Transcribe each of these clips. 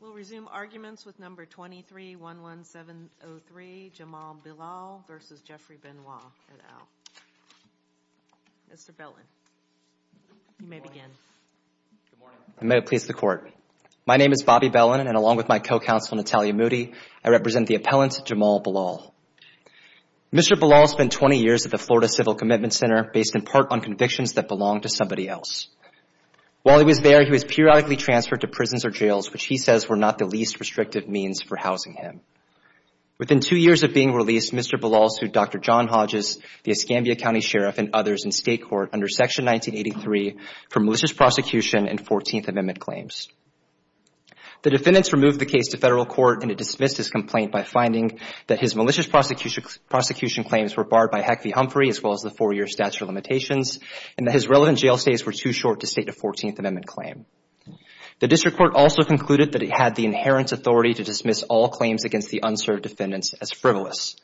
We'll resume arguments with number 2311703 Jamal Bilal v. Jeffrey Benoit at OWL. Mr. Belin, you may begin. Good morning. May it please the Court. My name is Bobby Belin, and along with my co-counsel Natalia Moody, I represent the appellant Jamal Bilal. Mr. Bilal spent 20 years at the Florida Civil Commitment Center based in part on convictions that belonged to somebody else. While he was there, he was periodically transferred to prisons or jails, which he says were not the least restrictive means for housing him. Within two years of being released, Mr. Bilal sued Dr. John Hodges, the Escambia County Sheriff, and others in state court under Section 1983 for malicious prosecution and 14th Amendment claims. The defendants removed the case to federal court and it dismissed his complaint by finding that his malicious prosecution claims were barred by Heck v. Humphrey, as well as the four-year statute of limitations, and that his relevant jail stays were too short to state a 14th Amendment claim. The district court also concluded that it had the inherent authority to dismiss all claims against the unserved defendants as frivolous.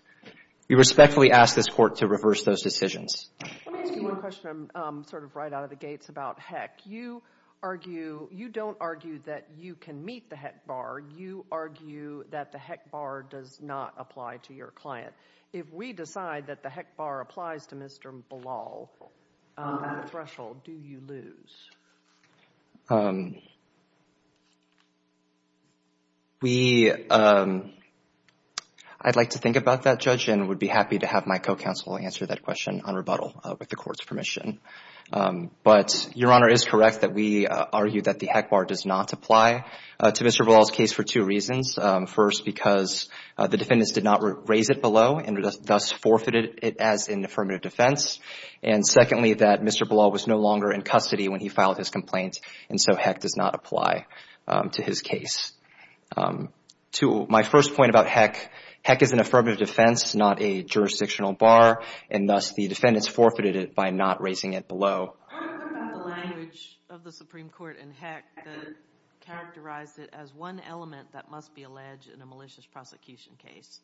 We respectfully ask this court to reverse those decisions. Let me ask you one question sort of right out of the gates about Heck. You argue, you don't argue that you can meet the Heck bar. You argue that the Heck bar does not apply to your client. If we decide that the Heck bar applies to Mr. Bilal at a threshold, do you lose? We, I'd like to think about that, Judge, and would be happy to have my co-counsel answer that question on rebuttal with the court's permission. But Your Honor is correct that we argue that the Heck bar does not apply to Mr. Bilal's case for two reasons. First, because the defendants did not raise it below and thus forfeited it as an affirmative defense. And secondly, that Mr. Bilal was no longer in custody when he filed his complaint, and so Heck does not apply to his case. To my first point about Heck, Heck is an affirmative defense, not a jurisdictional bar, and thus the defendants forfeited it by not raising it below. I want to talk about the language of the Supreme Court in Heck that characterized it as one element that must be alleged in a malicious prosecution case.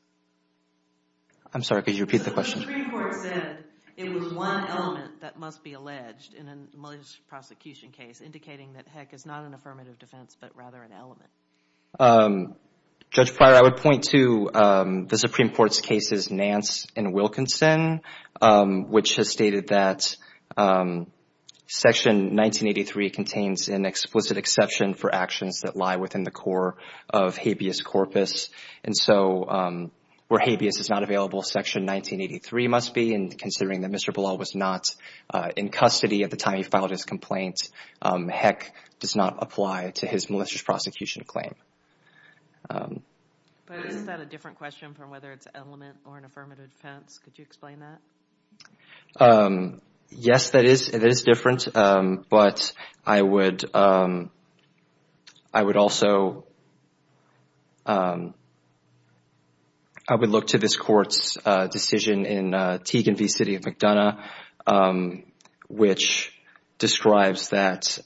I'm sorry, could you repeat the question? The Supreme Court said it was one element that must be alleged in a malicious prosecution case, indicating that Heck is not an affirmative defense, but rather an element. Judge Pryor, I would point to the Supreme Court's cases Nance and Wilkinson, which has stated that Section 1983 contains an explicit exception for actions that lie within the core of habeas corpus. And so where habeas is not available, Section 1983 must be, and considering that Mr. Bilal was not in custody at the time he filed his complaint, Heck does not apply to his malicious prosecution claim. But is that a different question from whether it's an element or an affirmative defense? Could you explain that? Yes, that is different, but I would also look to this Court's decision in Teague v. City of McDonough, which describes that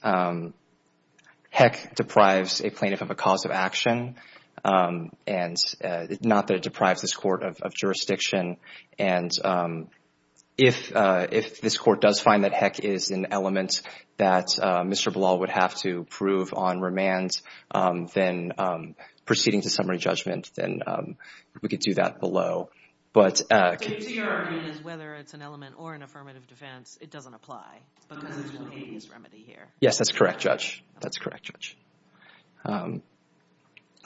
Heck deprives a plaintiff of a cause of action, and not that it deprives this Court of jurisdiction. And if this Court does find that Heck is an element that Mr. Bilal would have to prove on remand, then proceeding to summary judgment, then we could do that below. So your argument is whether it's an element or an affirmative defense, it doesn't apply because it's an habeas remedy here? Yes, that's correct, Judge. That's correct, Judge.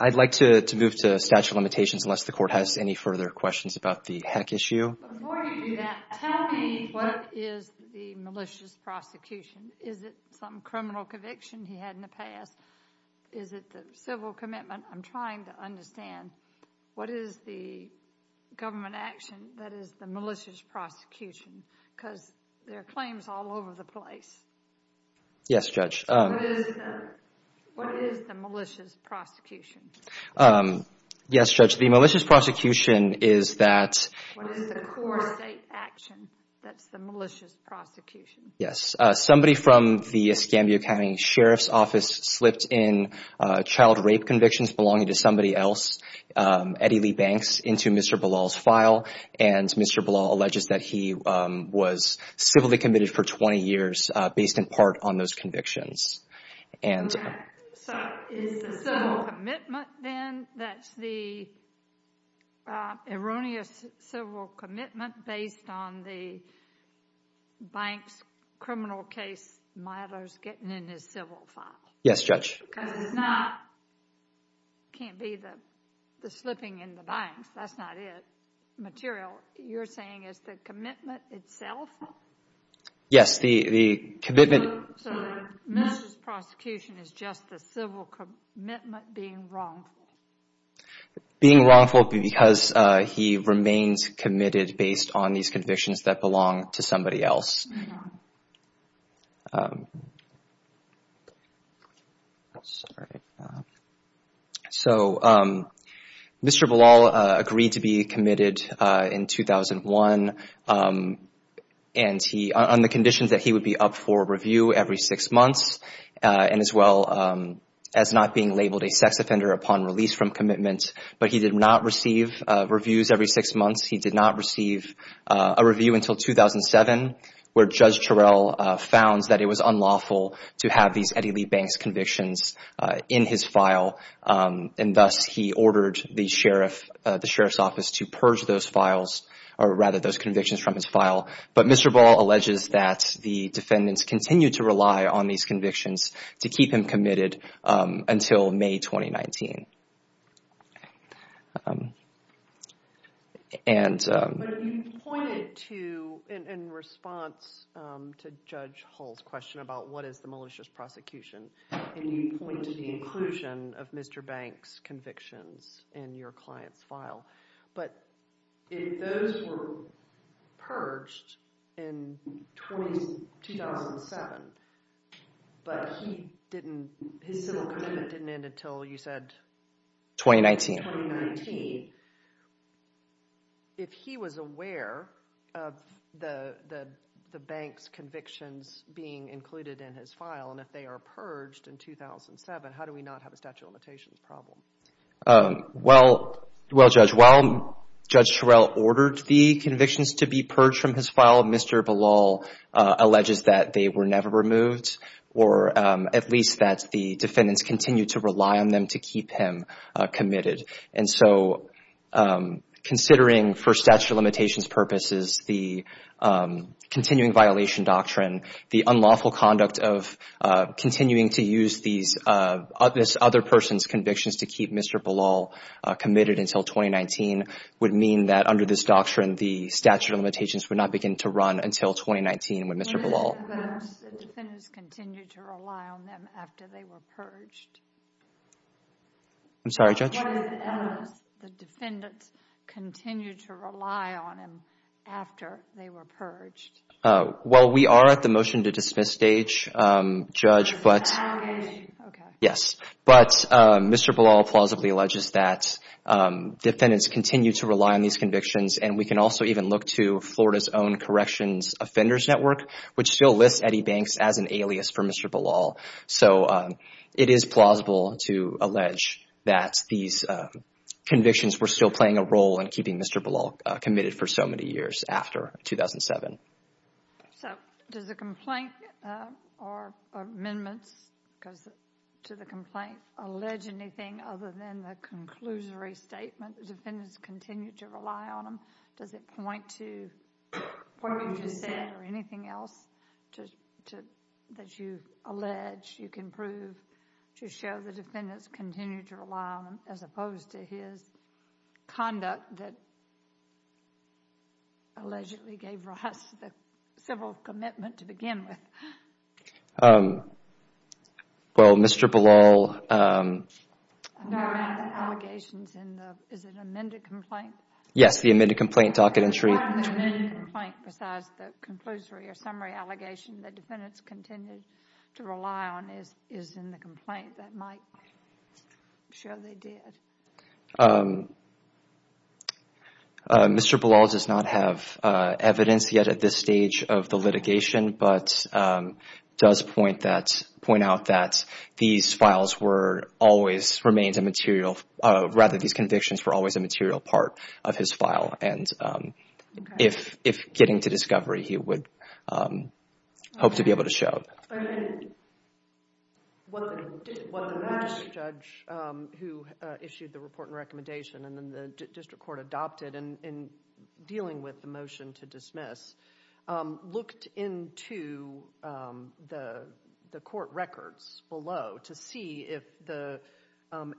I'd like to move to statute of limitations unless the Court has any further questions about the Heck issue. Before you do that, tell me what is the malicious prosecution? Is it some criminal conviction he had in the past? Is it the civil commitment? I'm trying to understand, what is the government action that is the malicious prosecution? Because there are claims all over the place. Yes, Judge. What is the malicious prosecution? Yes, Judge, the malicious prosecution is that... What is the core state action that's the malicious prosecution? Yes, somebody from the Escambia County Sheriff's Office slipped in child rape convictions belonging to somebody else, Eddie Lee Banks, into Mr. Bilal's file, and Mr. Bilal alleges that he was civilly committed for 20 years based in part on those convictions. So, is the civil commitment then, that's the erroneous civil commitment based on the Banks criminal case, Milo's getting in his civil file? Yes, Judge. Because it's not, it can't be the slipping in the Banks, that's not it, material. You're saying it's the commitment itself? Yes, the commitment... So, the malicious prosecution is just the civil commitment being wrongful? Being wrongful because he remains committed based on these convictions that belong to somebody else. So, Mr. Bilal agreed to be committed in 2001, and he, on the conditions that he would be up for review every six months, and as well as not being labeled a sex offender upon release from commitment, but he did not receive reviews every six months. He did not receive a review until 2007, where Judge Terrell found that it was unlawful to have these Eddie Lee Banks convictions in his file, and thus he ordered the Sheriff's Office to purge those files, or rather those convictions from his file. But Mr. Bilal alleges that the defendants continued to rely on these convictions to keep him committed until May 2019. But you pointed to, in response to Judge Hull's question about what is the malicious prosecution, and you pointed to the inclusion of Mr. Banks' convictions in your client's file, but if those were purged in 2007, but his civil commitment didn't end until, you said... 2019. If he was aware of the Banks convictions being included in his file, and if they are purged in 2007, how do we not have a statute of limitations problem? Well, Judge, while Judge Terrell ordered the convictions to be purged from his file, Mr. Bilal alleges that they were never removed, or at least that the defendants continued to rely on them to keep him committed. And so considering, for statute of limitations purposes, the continuing violation doctrine, the unlawful conduct of continuing to use this other person's convictions to keep Mr. Bilal committed until 2019 would mean that under this doctrine, the statute of limitations would not begin to run until 2019 with Mr. Bilal. Why did the defendants continue to rely on them after they were purged? I'm sorry, Judge? Why did the defendants continue to rely on him after they were purged? Well, we are at the motion to dismiss stage, Judge, but... It's an allegation. Yes, but Mr. Bilal plausibly alleges that defendants continue to rely on these convictions, and we can also even look to Florida's own Corrections Offenders Network, which still lists Eddie Banks as an alias for Mr. Bilal. So it is plausible to allege that these convictions were still playing a role in keeping Mr. Bilal committed for so many years after 2007. So does the complaint or amendments to the complaint allege anything other than the conclusory statement that the defendants continue to rely on him? Does it point to dissent or anything else that you allege you can prove to show the defendants continue to rely on him as opposed to his conduct that allegedly gave rise to the civil commitment to begin with? Well, Mr. Bilal... No, I meant the allegations in the, is it amended complaint? Yes, the amended complaint docket entry. Not in the amended complaint, besides the conclusory or summary allegation that defendants continue to rely on is in the complaint that might show they did. Mr. Bilal does not have evidence yet at this stage of the litigation, but does point out that these files were always, remains a material, rather these convictions were always a material part of his file, and if getting to discovery he would hope to be able to show. What the judge who issued the report and recommendation and the district court adopted in dealing with the motion to dismiss looked into the court records below to see if the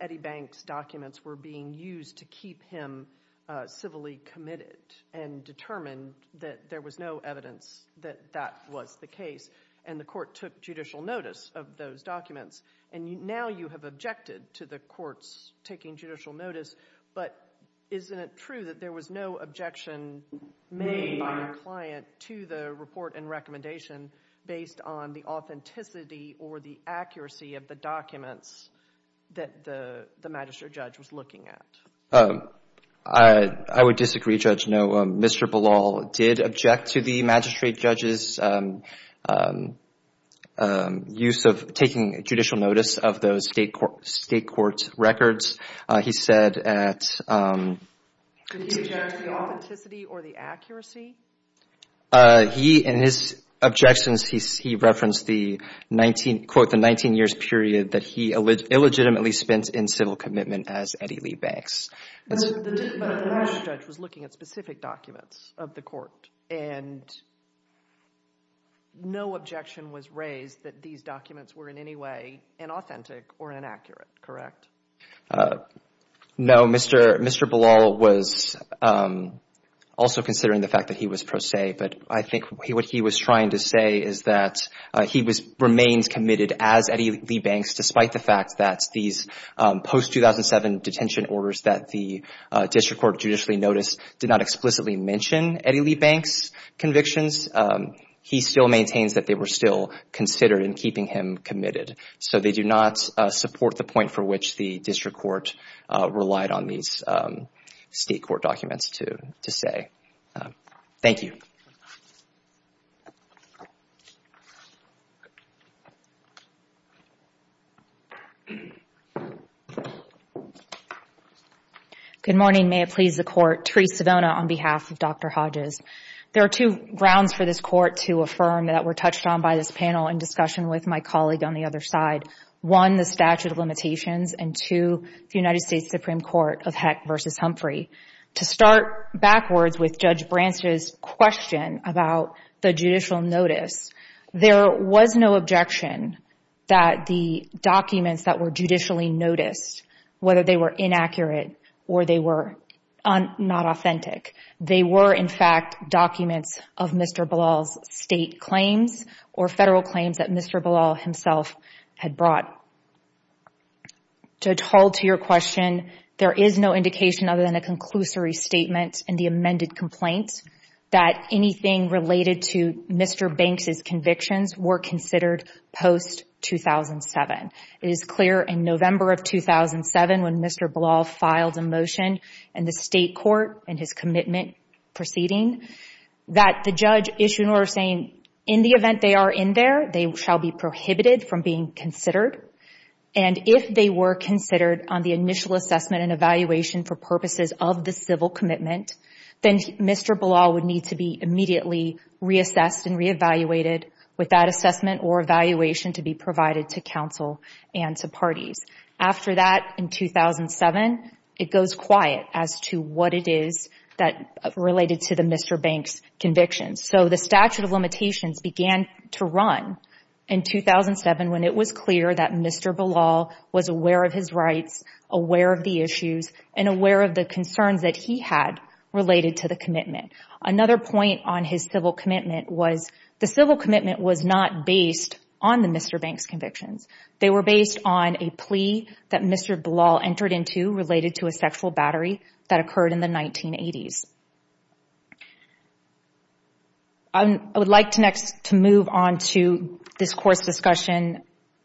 Eddie Banks documents were being used to keep him civilly committed and determined that there was no evidence that that was the case and the court took judicial notice of those documents, and now you have objected to the courts taking judicial notice, but isn't it true that there was no objection made by the client to the report and recommendation based on the authenticity or the accuracy of the documents that the magistrate judge was looking at? I would disagree, Judge. No, Mr. Bilal did object to the magistrate judge's use of taking judicial notice of those state court records. He said at— Did he object to the authenticity or the accuracy? He, in his objections, he referenced the 19, quote, the 19 years period that he illegitimately spent in civil commitment as Eddie Lee Banks. But the magistrate judge was looking at specific documents of the court and no objection was raised that these documents were in any way inauthentic or inaccurate, correct? No, Mr. Bilal was also considering the fact that he was pro se, but I think what he was trying to say is that he remains committed as Eddie Lee Banks despite the fact that these post-2007 detention orders that the district court judicially noticed did not explicitly mention Eddie Lee Banks' convictions. He still maintains that they were still considered in keeping him committed. So they do not support the point for which the district court relied on these state court documents to say. Thank you. Good morning. May it please the court. Terese Savona on behalf of Dr. Hodges. There are two grounds for this court to affirm that were touched on by this panel in discussion with my colleague on the other side. One, the statute of limitations, and two, the United States Supreme Court of Heck v. Humphrey. To start backwards with Judge Branstad's question about the judicial notice, there was no objection that the documents that were judicially noticed, whether they were inaccurate or they were not authentic, they were, in fact, documents of Mr. Bilal's state claims or federal claims that Mr. Bilal himself had brought. To hold to your question, there is no indication other than a conclusory statement in the amended complaint that anything related to Mr. Banks' convictions were considered post-2007. It is clear in November of 2007 when Mr. Bilal filed a motion in the state court in his commitment proceeding that the judge issued an order saying in the event they are in there, they shall be prohibited from being considered. And if they were considered on the initial assessment and evaluation for purposes of the civil commitment, then Mr. Bilal would need to be immediately reassessed and reevaluated with that assessment or evaluation to be provided to counsel and to parties. After that, in 2007, it goes quiet as to what it is that related to Mr. Banks' convictions. So the statute of limitations began to run in 2007 when it was clear that Mr. Bilal was aware of his rights, aware of the issues, and aware of the concerns that he had related to the commitment. Another point on his civil commitment was the civil commitment was not based on Mr. Banks' convictions. They were based on a plea that Mr. Bilal entered into related to a sexual battery that occurred in the 1980s. I would like to move on to this course discussion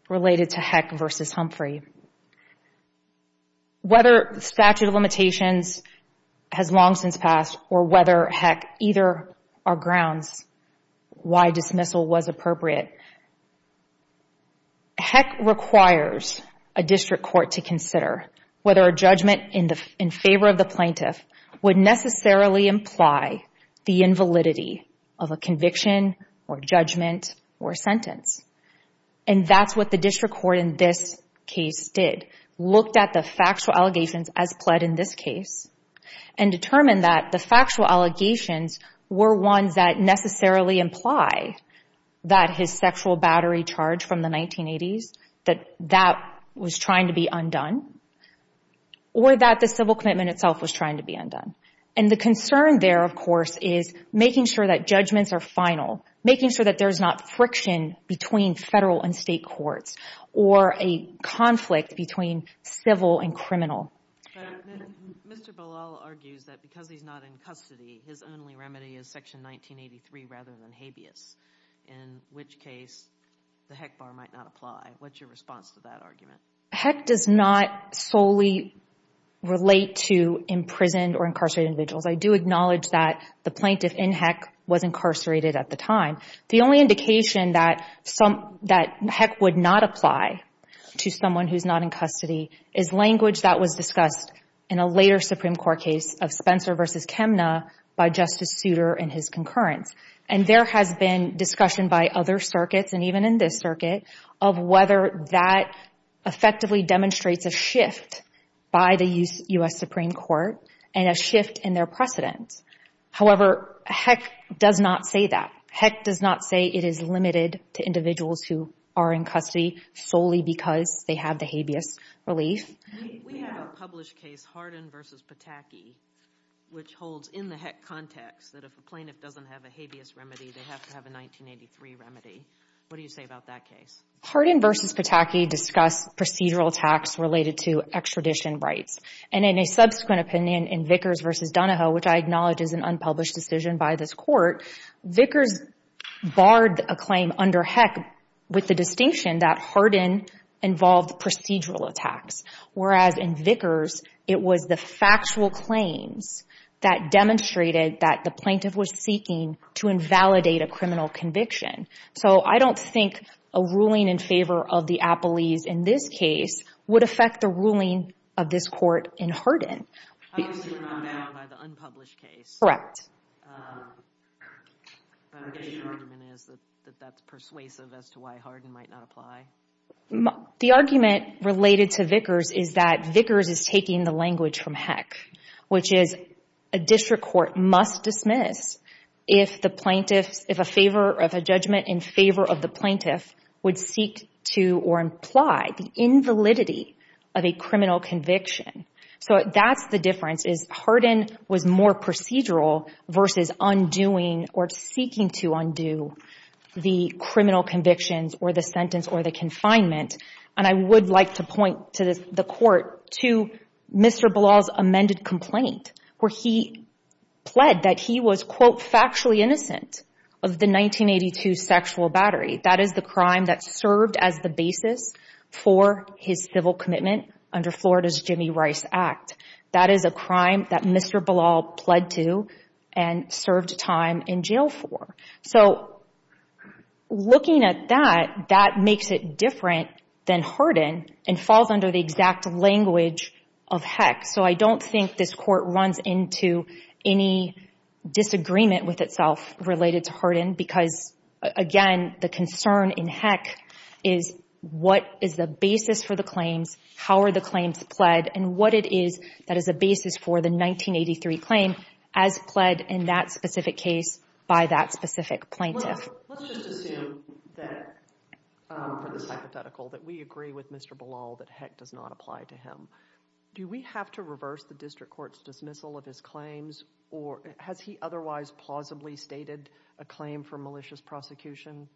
related to Heck v. Humphrey. Whether statute of limitations has long since passed or whether, heck, either are grounds why dismissal was appropriate, Heck requires a district court to consider whether a judgment in favor of the plaintiff would necessarily imply the invalidity of a conviction or judgment or sentence. And that's what the district court in this case did, looked at the factual allegations as pled in this case and determined that the factual allegations were ones that necessarily imply that his sexual battery charge from the 1980s, that that was trying to be undone, or that the civil commitment itself was trying to be undone. And the concern there, of course, is making sure that judgments are final, making sure that there's not friction between federal and state courts or a conflict between civil and criminal. But Mr. Bilal argues that because he's not in custody, his only remedy is Section 1983 rather than habeas, in which case the Heck bar might not apply. What's your response to that argument? Heck does not solely relate to imprisoned or incarcerated individuals. I do acknowledge that the plaintiff in Heck was incarcerated at the time. The only indication that Heck would not apply to someone who's not in custody is language that was discussed in a later Supreme Court case of Spencer v. Chemna by Justice Souter and his concurrence. And there has been discussion by other circuits, and even in this circuit, of whether that effectively demonstrates a shift by the U.S. Supreme Court and a shift in their precedence. However, Heck does not say that. Heck does not say it is limited to individuals who are in custody solely because they have the habeas relief. We have a published case, Hardin v. Pataki, which holds in the Heck context that if a plaintiff doesn't have a habeas remedy, they have to have a 1983 remedy. What do you say about that case? Hardin v. Pataki discussed procedural attacks related to extradition rights. And in a subsequent opinion in Vickers v. Donahoe, which I acknowledge is an unpublished decision by this court, Vickers barred a claim under Heck with the distinction that Hardin involved procedural attacks. Whereas in Vickers, it was the factual claims that demonstrated that the plaintiff was seeking to invalidate a criminal conviction. So I don't think a ruling in favor of the appellees in this case would affect the ruling of this court in Hardin. How does it amount by the unpublished case? The argument is that that's persuasive as to why Hardin might not apply? The argument related to Vickers is that Vickers is taking the language from Heck, which is a district court must dismiss if a judgment in favor of the plaintiff would seek to or imply the invalidity of a criminal conviction. So that's the difference is Hardin was more procedural versus undoing or seeking to undo the criminal convictions or the sentence or the confinement. And I would like to point to the court to Mr. Ballal's amended complaint where he pled that he was quote factually innocent of the 1982 sexual battery. That is the crime that served as the basis for his civil commitment under Florida's Jimmy Rice Act. That is a crime that Mr. Ballal pled to and served time in jail for. So looking at that, that makes it different than Hardin and falls under the exact language of Heck. So I don't think this court runs into any disagreement with itself related to Hardin because, again, the concern in Heck is what is the basis for the claims, how are the claims pled, and what it is that is a basis for the 1983 claim as pled in that specific case by that specific plaintiff. Let's just assume that for this hypothetical that we agree with Mr. Ballal that Heck does not apply to him. Do we have to reverse the district court's dismissal of his claims, or has he otherwise plausibly stated a claim for malicious prosecution?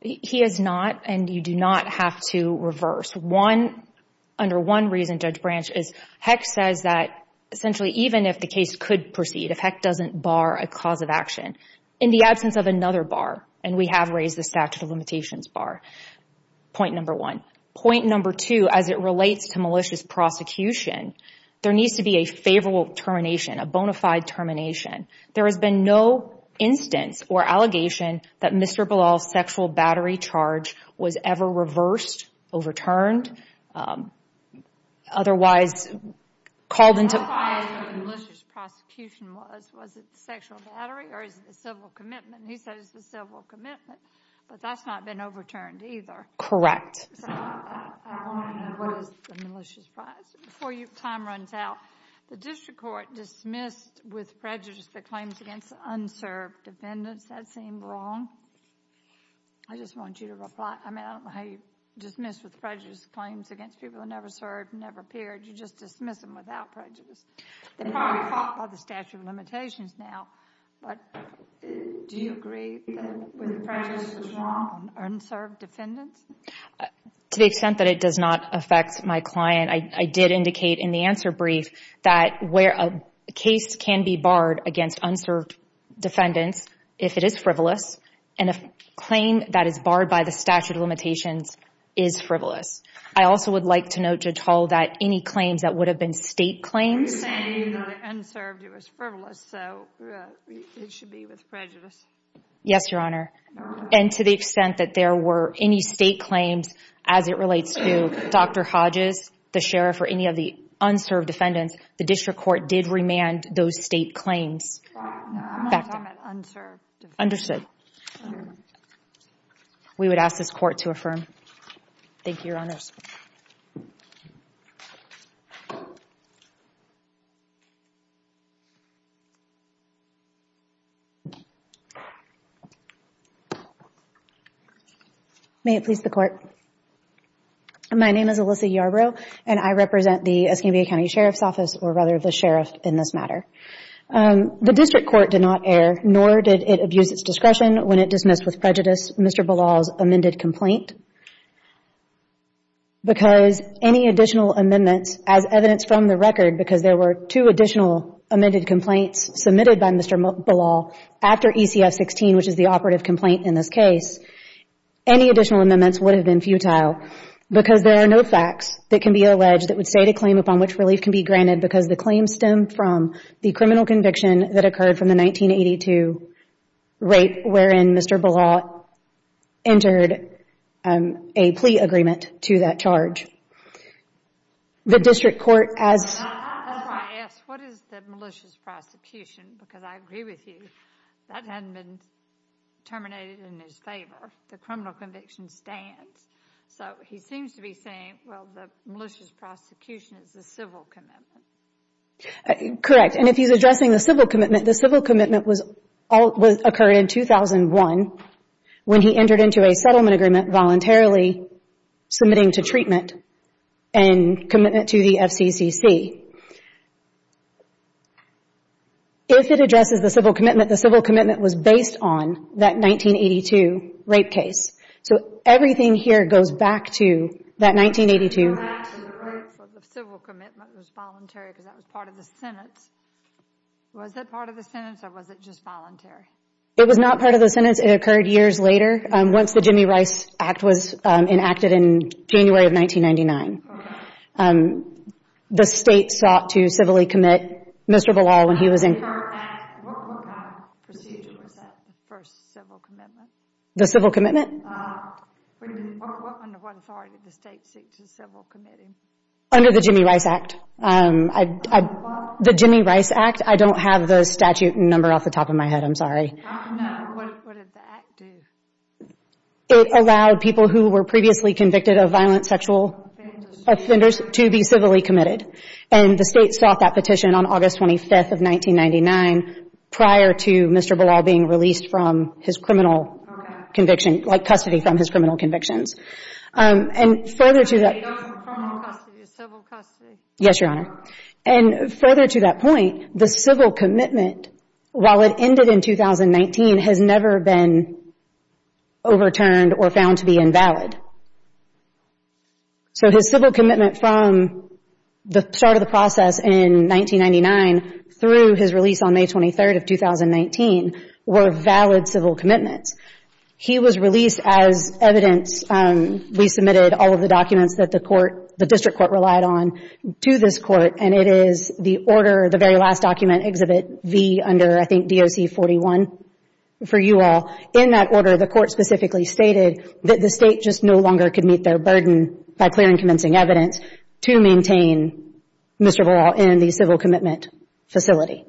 He has not, and you do not have to reverse. Under one reason, Judge Branch, is Heck says that essentially even if the case could proceed, if Heck doesn't bar a cause of action in the absence of another bar, and we have raised the statute of limitations bar, point number one. Point number two, as it relates to malicious prosecution, there needs to be a favorable termination, a bona fide termination. There has been no instance or allegation that Mr. Ballal's sexual battery charge was ever reversed, overturned, otherwise called into question. What the price of malicious prosecution was, was it sexual battery or is it a civil commitment? He says it's a civil commitment, but that's not been overturned either. Correct. So I want to know what is the malicious price. Before time runs out, the district court dismissed with prejudice the claims against unserved defendants. That seemed wrong. I just want you to reply. I mean, I don't know how you dismiss with prejudice claims against people who never served, never appeared. You just dismiss them without prejudice. They're probably caught by the statute of limitations now, but do you agree that prejudice was wrong on unserved defendants? To the extent that it does not affect my client, I did indicate in the answer brief that a case can be barred against unserved defendants if it is frivolous, and a claim that is barred by the statute of limitations is frivolous. I also would like to note, Judge Hall, that any claims that would have been state claims. You're saying that on unserved it was frivolous, so it should be with prejudice. Yes, Your Honor. And to the extent that there were any state claims as it relates to Dr. Hodges, the sheriff, or any of the unserved defendants, the district court did remand those state claims. I'm not talking about unserved defendants. Understood. We would ask this court to affirm. Thank you, Your Honors. May it please the court. My name is Alyssa Yarbrough, and I represent the Escanabia County Sheriff's Office, or rather the sheriff in this matter. The district court did not err, nor did it abuse its discretion when it dismissed with prejudice Mr. Belal's amended complaint. Because any additional amendments, as evidenced from the record, because there were two additional amended complaints submitted by Mr. Belal after ECF-16, which is the operative complaint in this case, any additional amendments would have been futile because there are no facts that can be alleged that would state a claim upon which relief can be granted because the claims stem from the criminal conviction that occurred from the 1982 rape wherein Mr. Belal entered a plea agreement to that charge. The district court has If I ask what is the malicious prosecution, because I agree with you, that hasn't been terminated in his favor. The criminal conviction stands. So he seems to be saying, well, the malicious prosecution is the civil commitment. Correct, and if he's addressing the civil commitment, the civil commitment occurred in 2001 when he entered into a settlement agreement voluntarily submitting to treatment and commitment to the FCCC. If it addresses the civil commitment, the civil commitment was based on that 1982 rape case. So everything here goes back to that 1982. The civil commitment was voluntary because that was part of the sentence. Was that part of the sentence or was it just voluntary? It was not part of the sentence. It occurred years later. Once the Jimmy Rice Act was enacted in January of 1999, the State sought to civilly commit Mr. Belal when he was in What kind of procedure was that, the first civil commitment? The civil commitment? Under what authority did the State seek to civil commit him? Under the Jimmy Rice Act. The Jimmy Rice Act. I don't have the statute number off the top of my head. I'm sorry. I don't know. What did the Act do? It allowed people who were previously convicted of violent sexual offenders to be civilly committed, and the State sought that petition on August 25th of 1999 prior to Mr. Belal being released from his criminal conviction, like custody from his criminal convictions. And further to that Not criminal custody, civil custody. Yes, Your Honor. And further to that point, the civil commitment, while it ended in 2019, has never been overturned or found to be invalid. So his civil commitment from the start of the process in 1999 through his release on May 23rd of 2019 were valid civil commitments. He was released as evidence. We submitted all of the documents that the District Court relied on to this Court, and it is the order, the very last document, Exhibit V under, I think, DOC 41, for you all. In that order, the Court specifically stated that the State just no longer could meet their burden by clearing convincing evidence to maintain Mr. Belal in the civil commitment facility.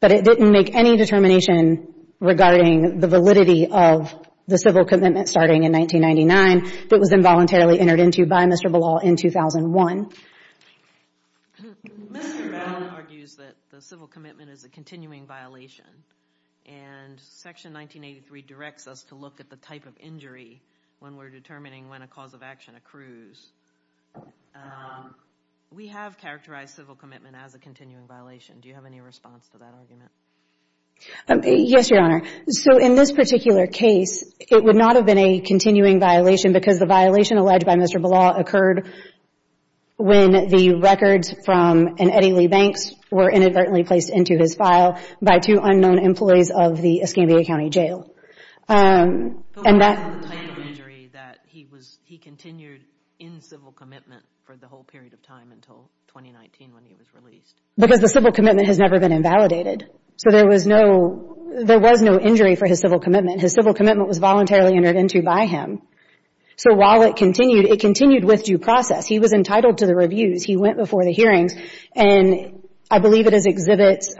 But it didn't make any determination regarding the validity of the civil commitment starting in 1999 that was involuntarily entered into by Mr. Belal in 2001. Mr. Belal argues that the civil commitment is a continuing violation, and Section 1983 directs us to look at the type of injury when we're determining when a cause of action accrues. We have characterized civil commitment as a continuing violation. Do you have any response to that argument? Yes, Your Honor. So in this particular case, it would not have been a continuing violation because the violation alleged by Mr. Belal occurred when the records from an Eddie Lee Banks were inadvertently placed into his file by two unknown employees of the Escambia County Jail. But what about the type of injury that he continued in civil commitment for the whole period of time until 2019 when he was released? Because the civil commitment has never been invalidated. So there was no injury for his civil commitment. His civil commitment was voluntarily entered into by him. So while it continued, it continued with due process. He was entitled to the reviews. He went before the hearings. And I believe it is exhibits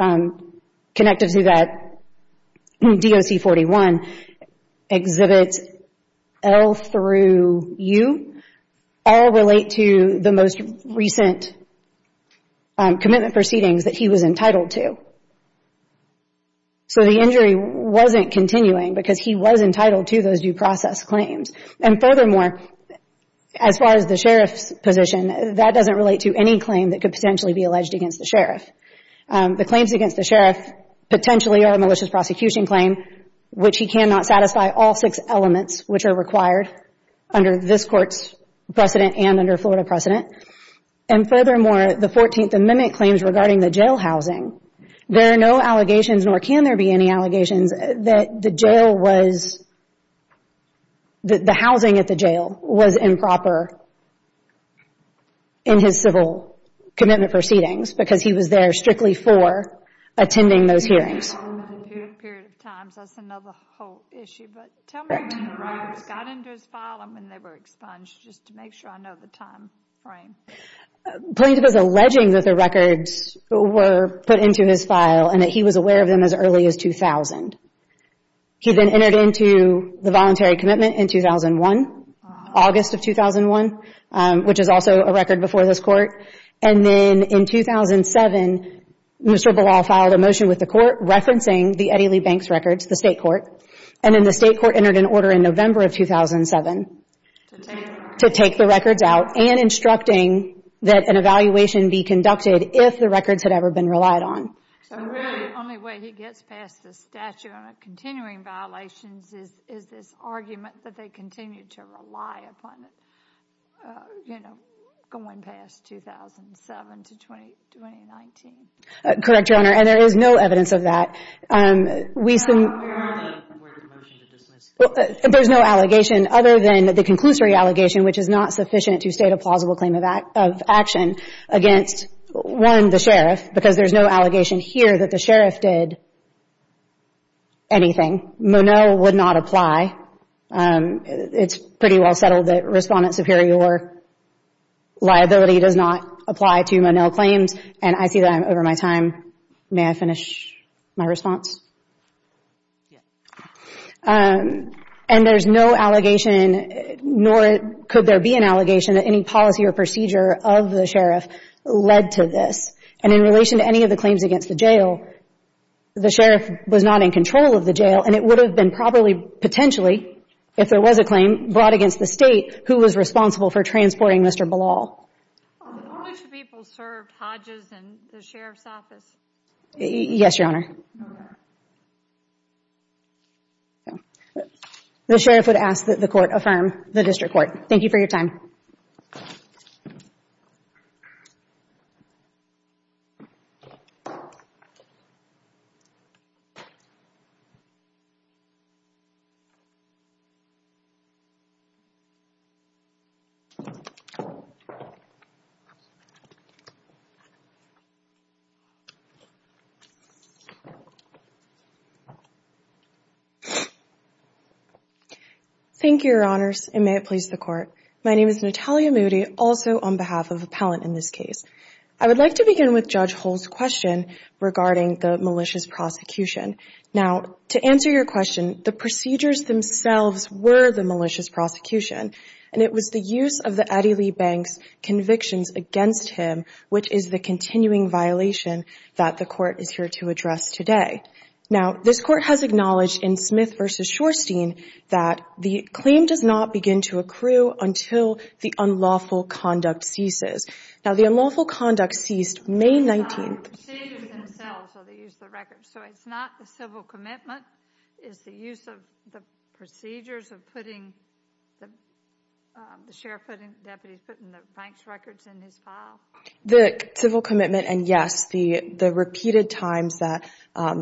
connected to that DOC 41. Exhibits L through U all relate to the most recent commitment proceedings that he was entitled to. So the injury wasn't continuing because he was entitled to those due process claims. And furthermore, as far as the sheriff's position, that doesn't relate to any claim that could potentially be alleged against the sheriff. The claims against the sheriff potentially are a malicious prosecution claim, which he cannot satisfy all six elements which are required under this court's precedent and under Florida precedent. And furthermore, the 14th Amendment claims regarding the jail housing, there are no allegations, nor can there be any allegations, that the jail was, that the housing at the jail was improper in his civil commitment proceedings because he was there strictly for attending those hearings. Period of time, so that's another whole issue. But tell me when the records got into his file and when they were expunged just to make sure I know the time frame. Plaintiff is alleging that the records were put into his file and that he was aware of them as early as 2000. He then entered into the voluntary commitment in 2001, August of 2001, which is also a record before this court. And then in 2007, Mr. Ballal filed a motion with the court referencing the Eddie Lee Banks records, the state court, and then the state court entered an order in November of 2007 to take the records out and instructing that an evaluation be conducted if the records had ever been relied on. So really, the only way he gets past the statute on the continuing violations is this argument that they continue to rely upon it, you know, going past 2007 to 2019. Correct, Your Honor, and there is no evidence of that. We've seen... There aren't any. I'm waiting for the motion to dismiss. There's no allegation other than the conclusory allegation, which is not sufficient to state a plausible claim of action against, one, the sheriff, because there's no allegation here that the sheriff did anything. Monell would not apply. It's pretty well settled that Respondent Superior liability does not apply to Monell claims, and I see that I'm over my time. May I finish my response? Yes. And there's no allegation, nor could there be an allegation, that any policy or procedure of the sheriff led to this. And in relation to any of the claims against the jail, the sheriff was not in control of the jail, and it would have been probably potentially, if there was a claim brought against the State, who was responsible for transporting Mr. Ballal. How much people served Hodges and the sheriff's office? Yes, Your Honor. The sheriff would ask that the Court affirm the district court. Thank you for your time. Thank you, Your Honors, and may it please the Court. My name is Natalia Moody, also on behalf of Appellant in this case. I would like to begin with Judge Hull's question regarding the malicious prosecution. Now, to answer your question, the procedures themselves were the malicious prosecution, and it was the use of the Addie Lee Banks convictions against him, which is the continuing violation that the Court is here to address today. Now, this Court has acknowledged in Smith v. Shorstein that the claim does not begin to accrue until the unlawful conduct ceases. Now, the unlawful conduct ceased May 19th. The procedures themselves are the use of the records. So it's not the civil commitment, it's the use of the procedures of putting the sheriff's deputy, putting the Banks records in his file? The civil commitment and, yes, the repeated times that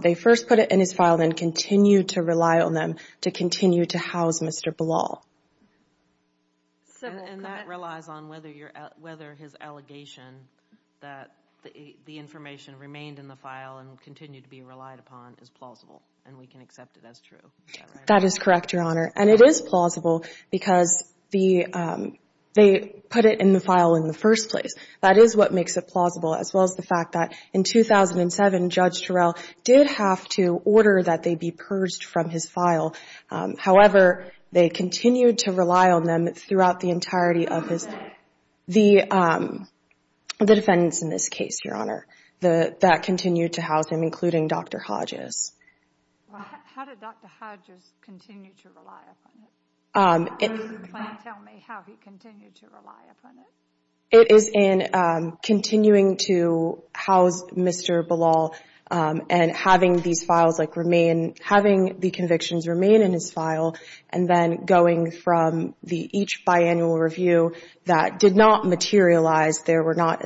they first put it in his file and then continued to rely on them to continue to house Mr. Ballal. And that relies on whether his allegation that the information remained in the file and continued to be relied upon is plausible, and we can accept it as true. That is correct, Your Honor, and it is plausible because they put it in the file in the first place. That is what makes it plausible, as well as the fact that in 2007, Judge Terrell did have to order that they be purged from his file. However, they continued to rely on them throughout the entirety of his The defendants in this case, Your Honor, that continued to house him, including Dr. Hodges. How did Dr. Hodges continue to rely upon it? Can you tell me how he continued to rely upon it? It is in continuing to house Mr. Ballal and having the convictions remain in his file and then going from each biannual review that did not materialize. There were not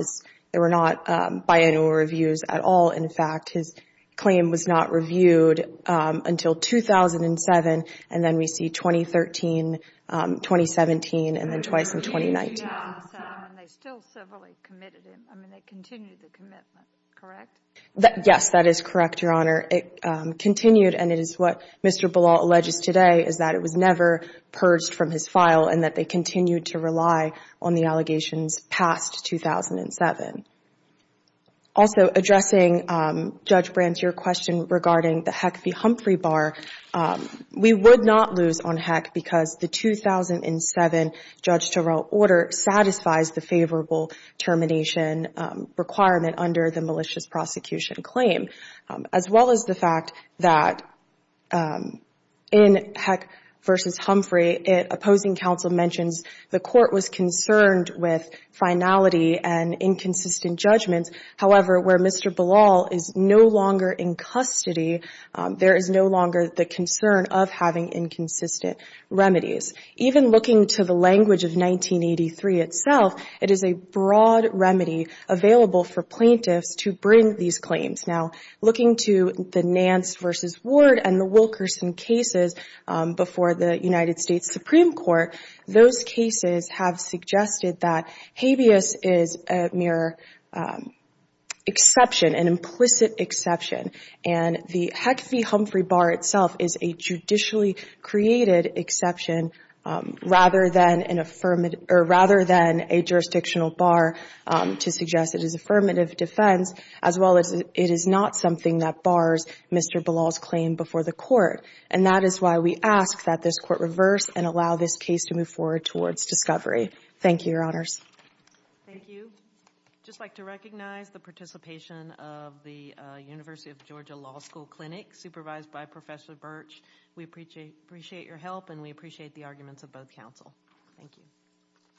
biannual reviews at all, in fact. His claim was not reviewed until 2007, and then we see 2013, 2017, and then twice in 2019. And they still civilly committed him. I mean, they continued the commitment, correct? Yes, that is correct, Your Honor. It continued, and it is what Mr. Ballal alleges today, is that it was never purged from his file and that they continued to rely on the allegations past 2007. Also, addressing Judge Brandt, your question regarding the Heck v. Humphrey bar, we would not lose on Heck because the 2007 Judge Terrell order satisfies the favorable termination requirement under the malicious prosecution claim, as well as the fact that in Heck v. Humphrey, opposing counsel mentions the court was concerned with finality and inconsistent judgments. However, where Mr. Ballal is no longer in custody, there is no longer the concern of having inconsistent remedies. Even looking to the language of 1983 itself, it is a broad remedy available for plaintiffs to bring these claims. Now, looking to the Nance v. Ward and the Wilkerson cases before the United States Supreme Court, those cases have suggested that habeas is a mere exception, an implicit exception, and the Heck v. Humphrey bar itself is a judicially created exception, rather than a jurisdictional bar to suggest it is affirmative defense, as well as it is not something that bars Mr. Ballal's claim before the court. And that is why we ask that this court reverse and allow this case to move forward towards discovery. Thank you, Your Honors. Thank you. I'd just like to recognize the participation of the University of Georgia Law School Clinic, supervised by Professor Birch. We appreciate your help, and we appreciate the arguments of both counsel. Thank you.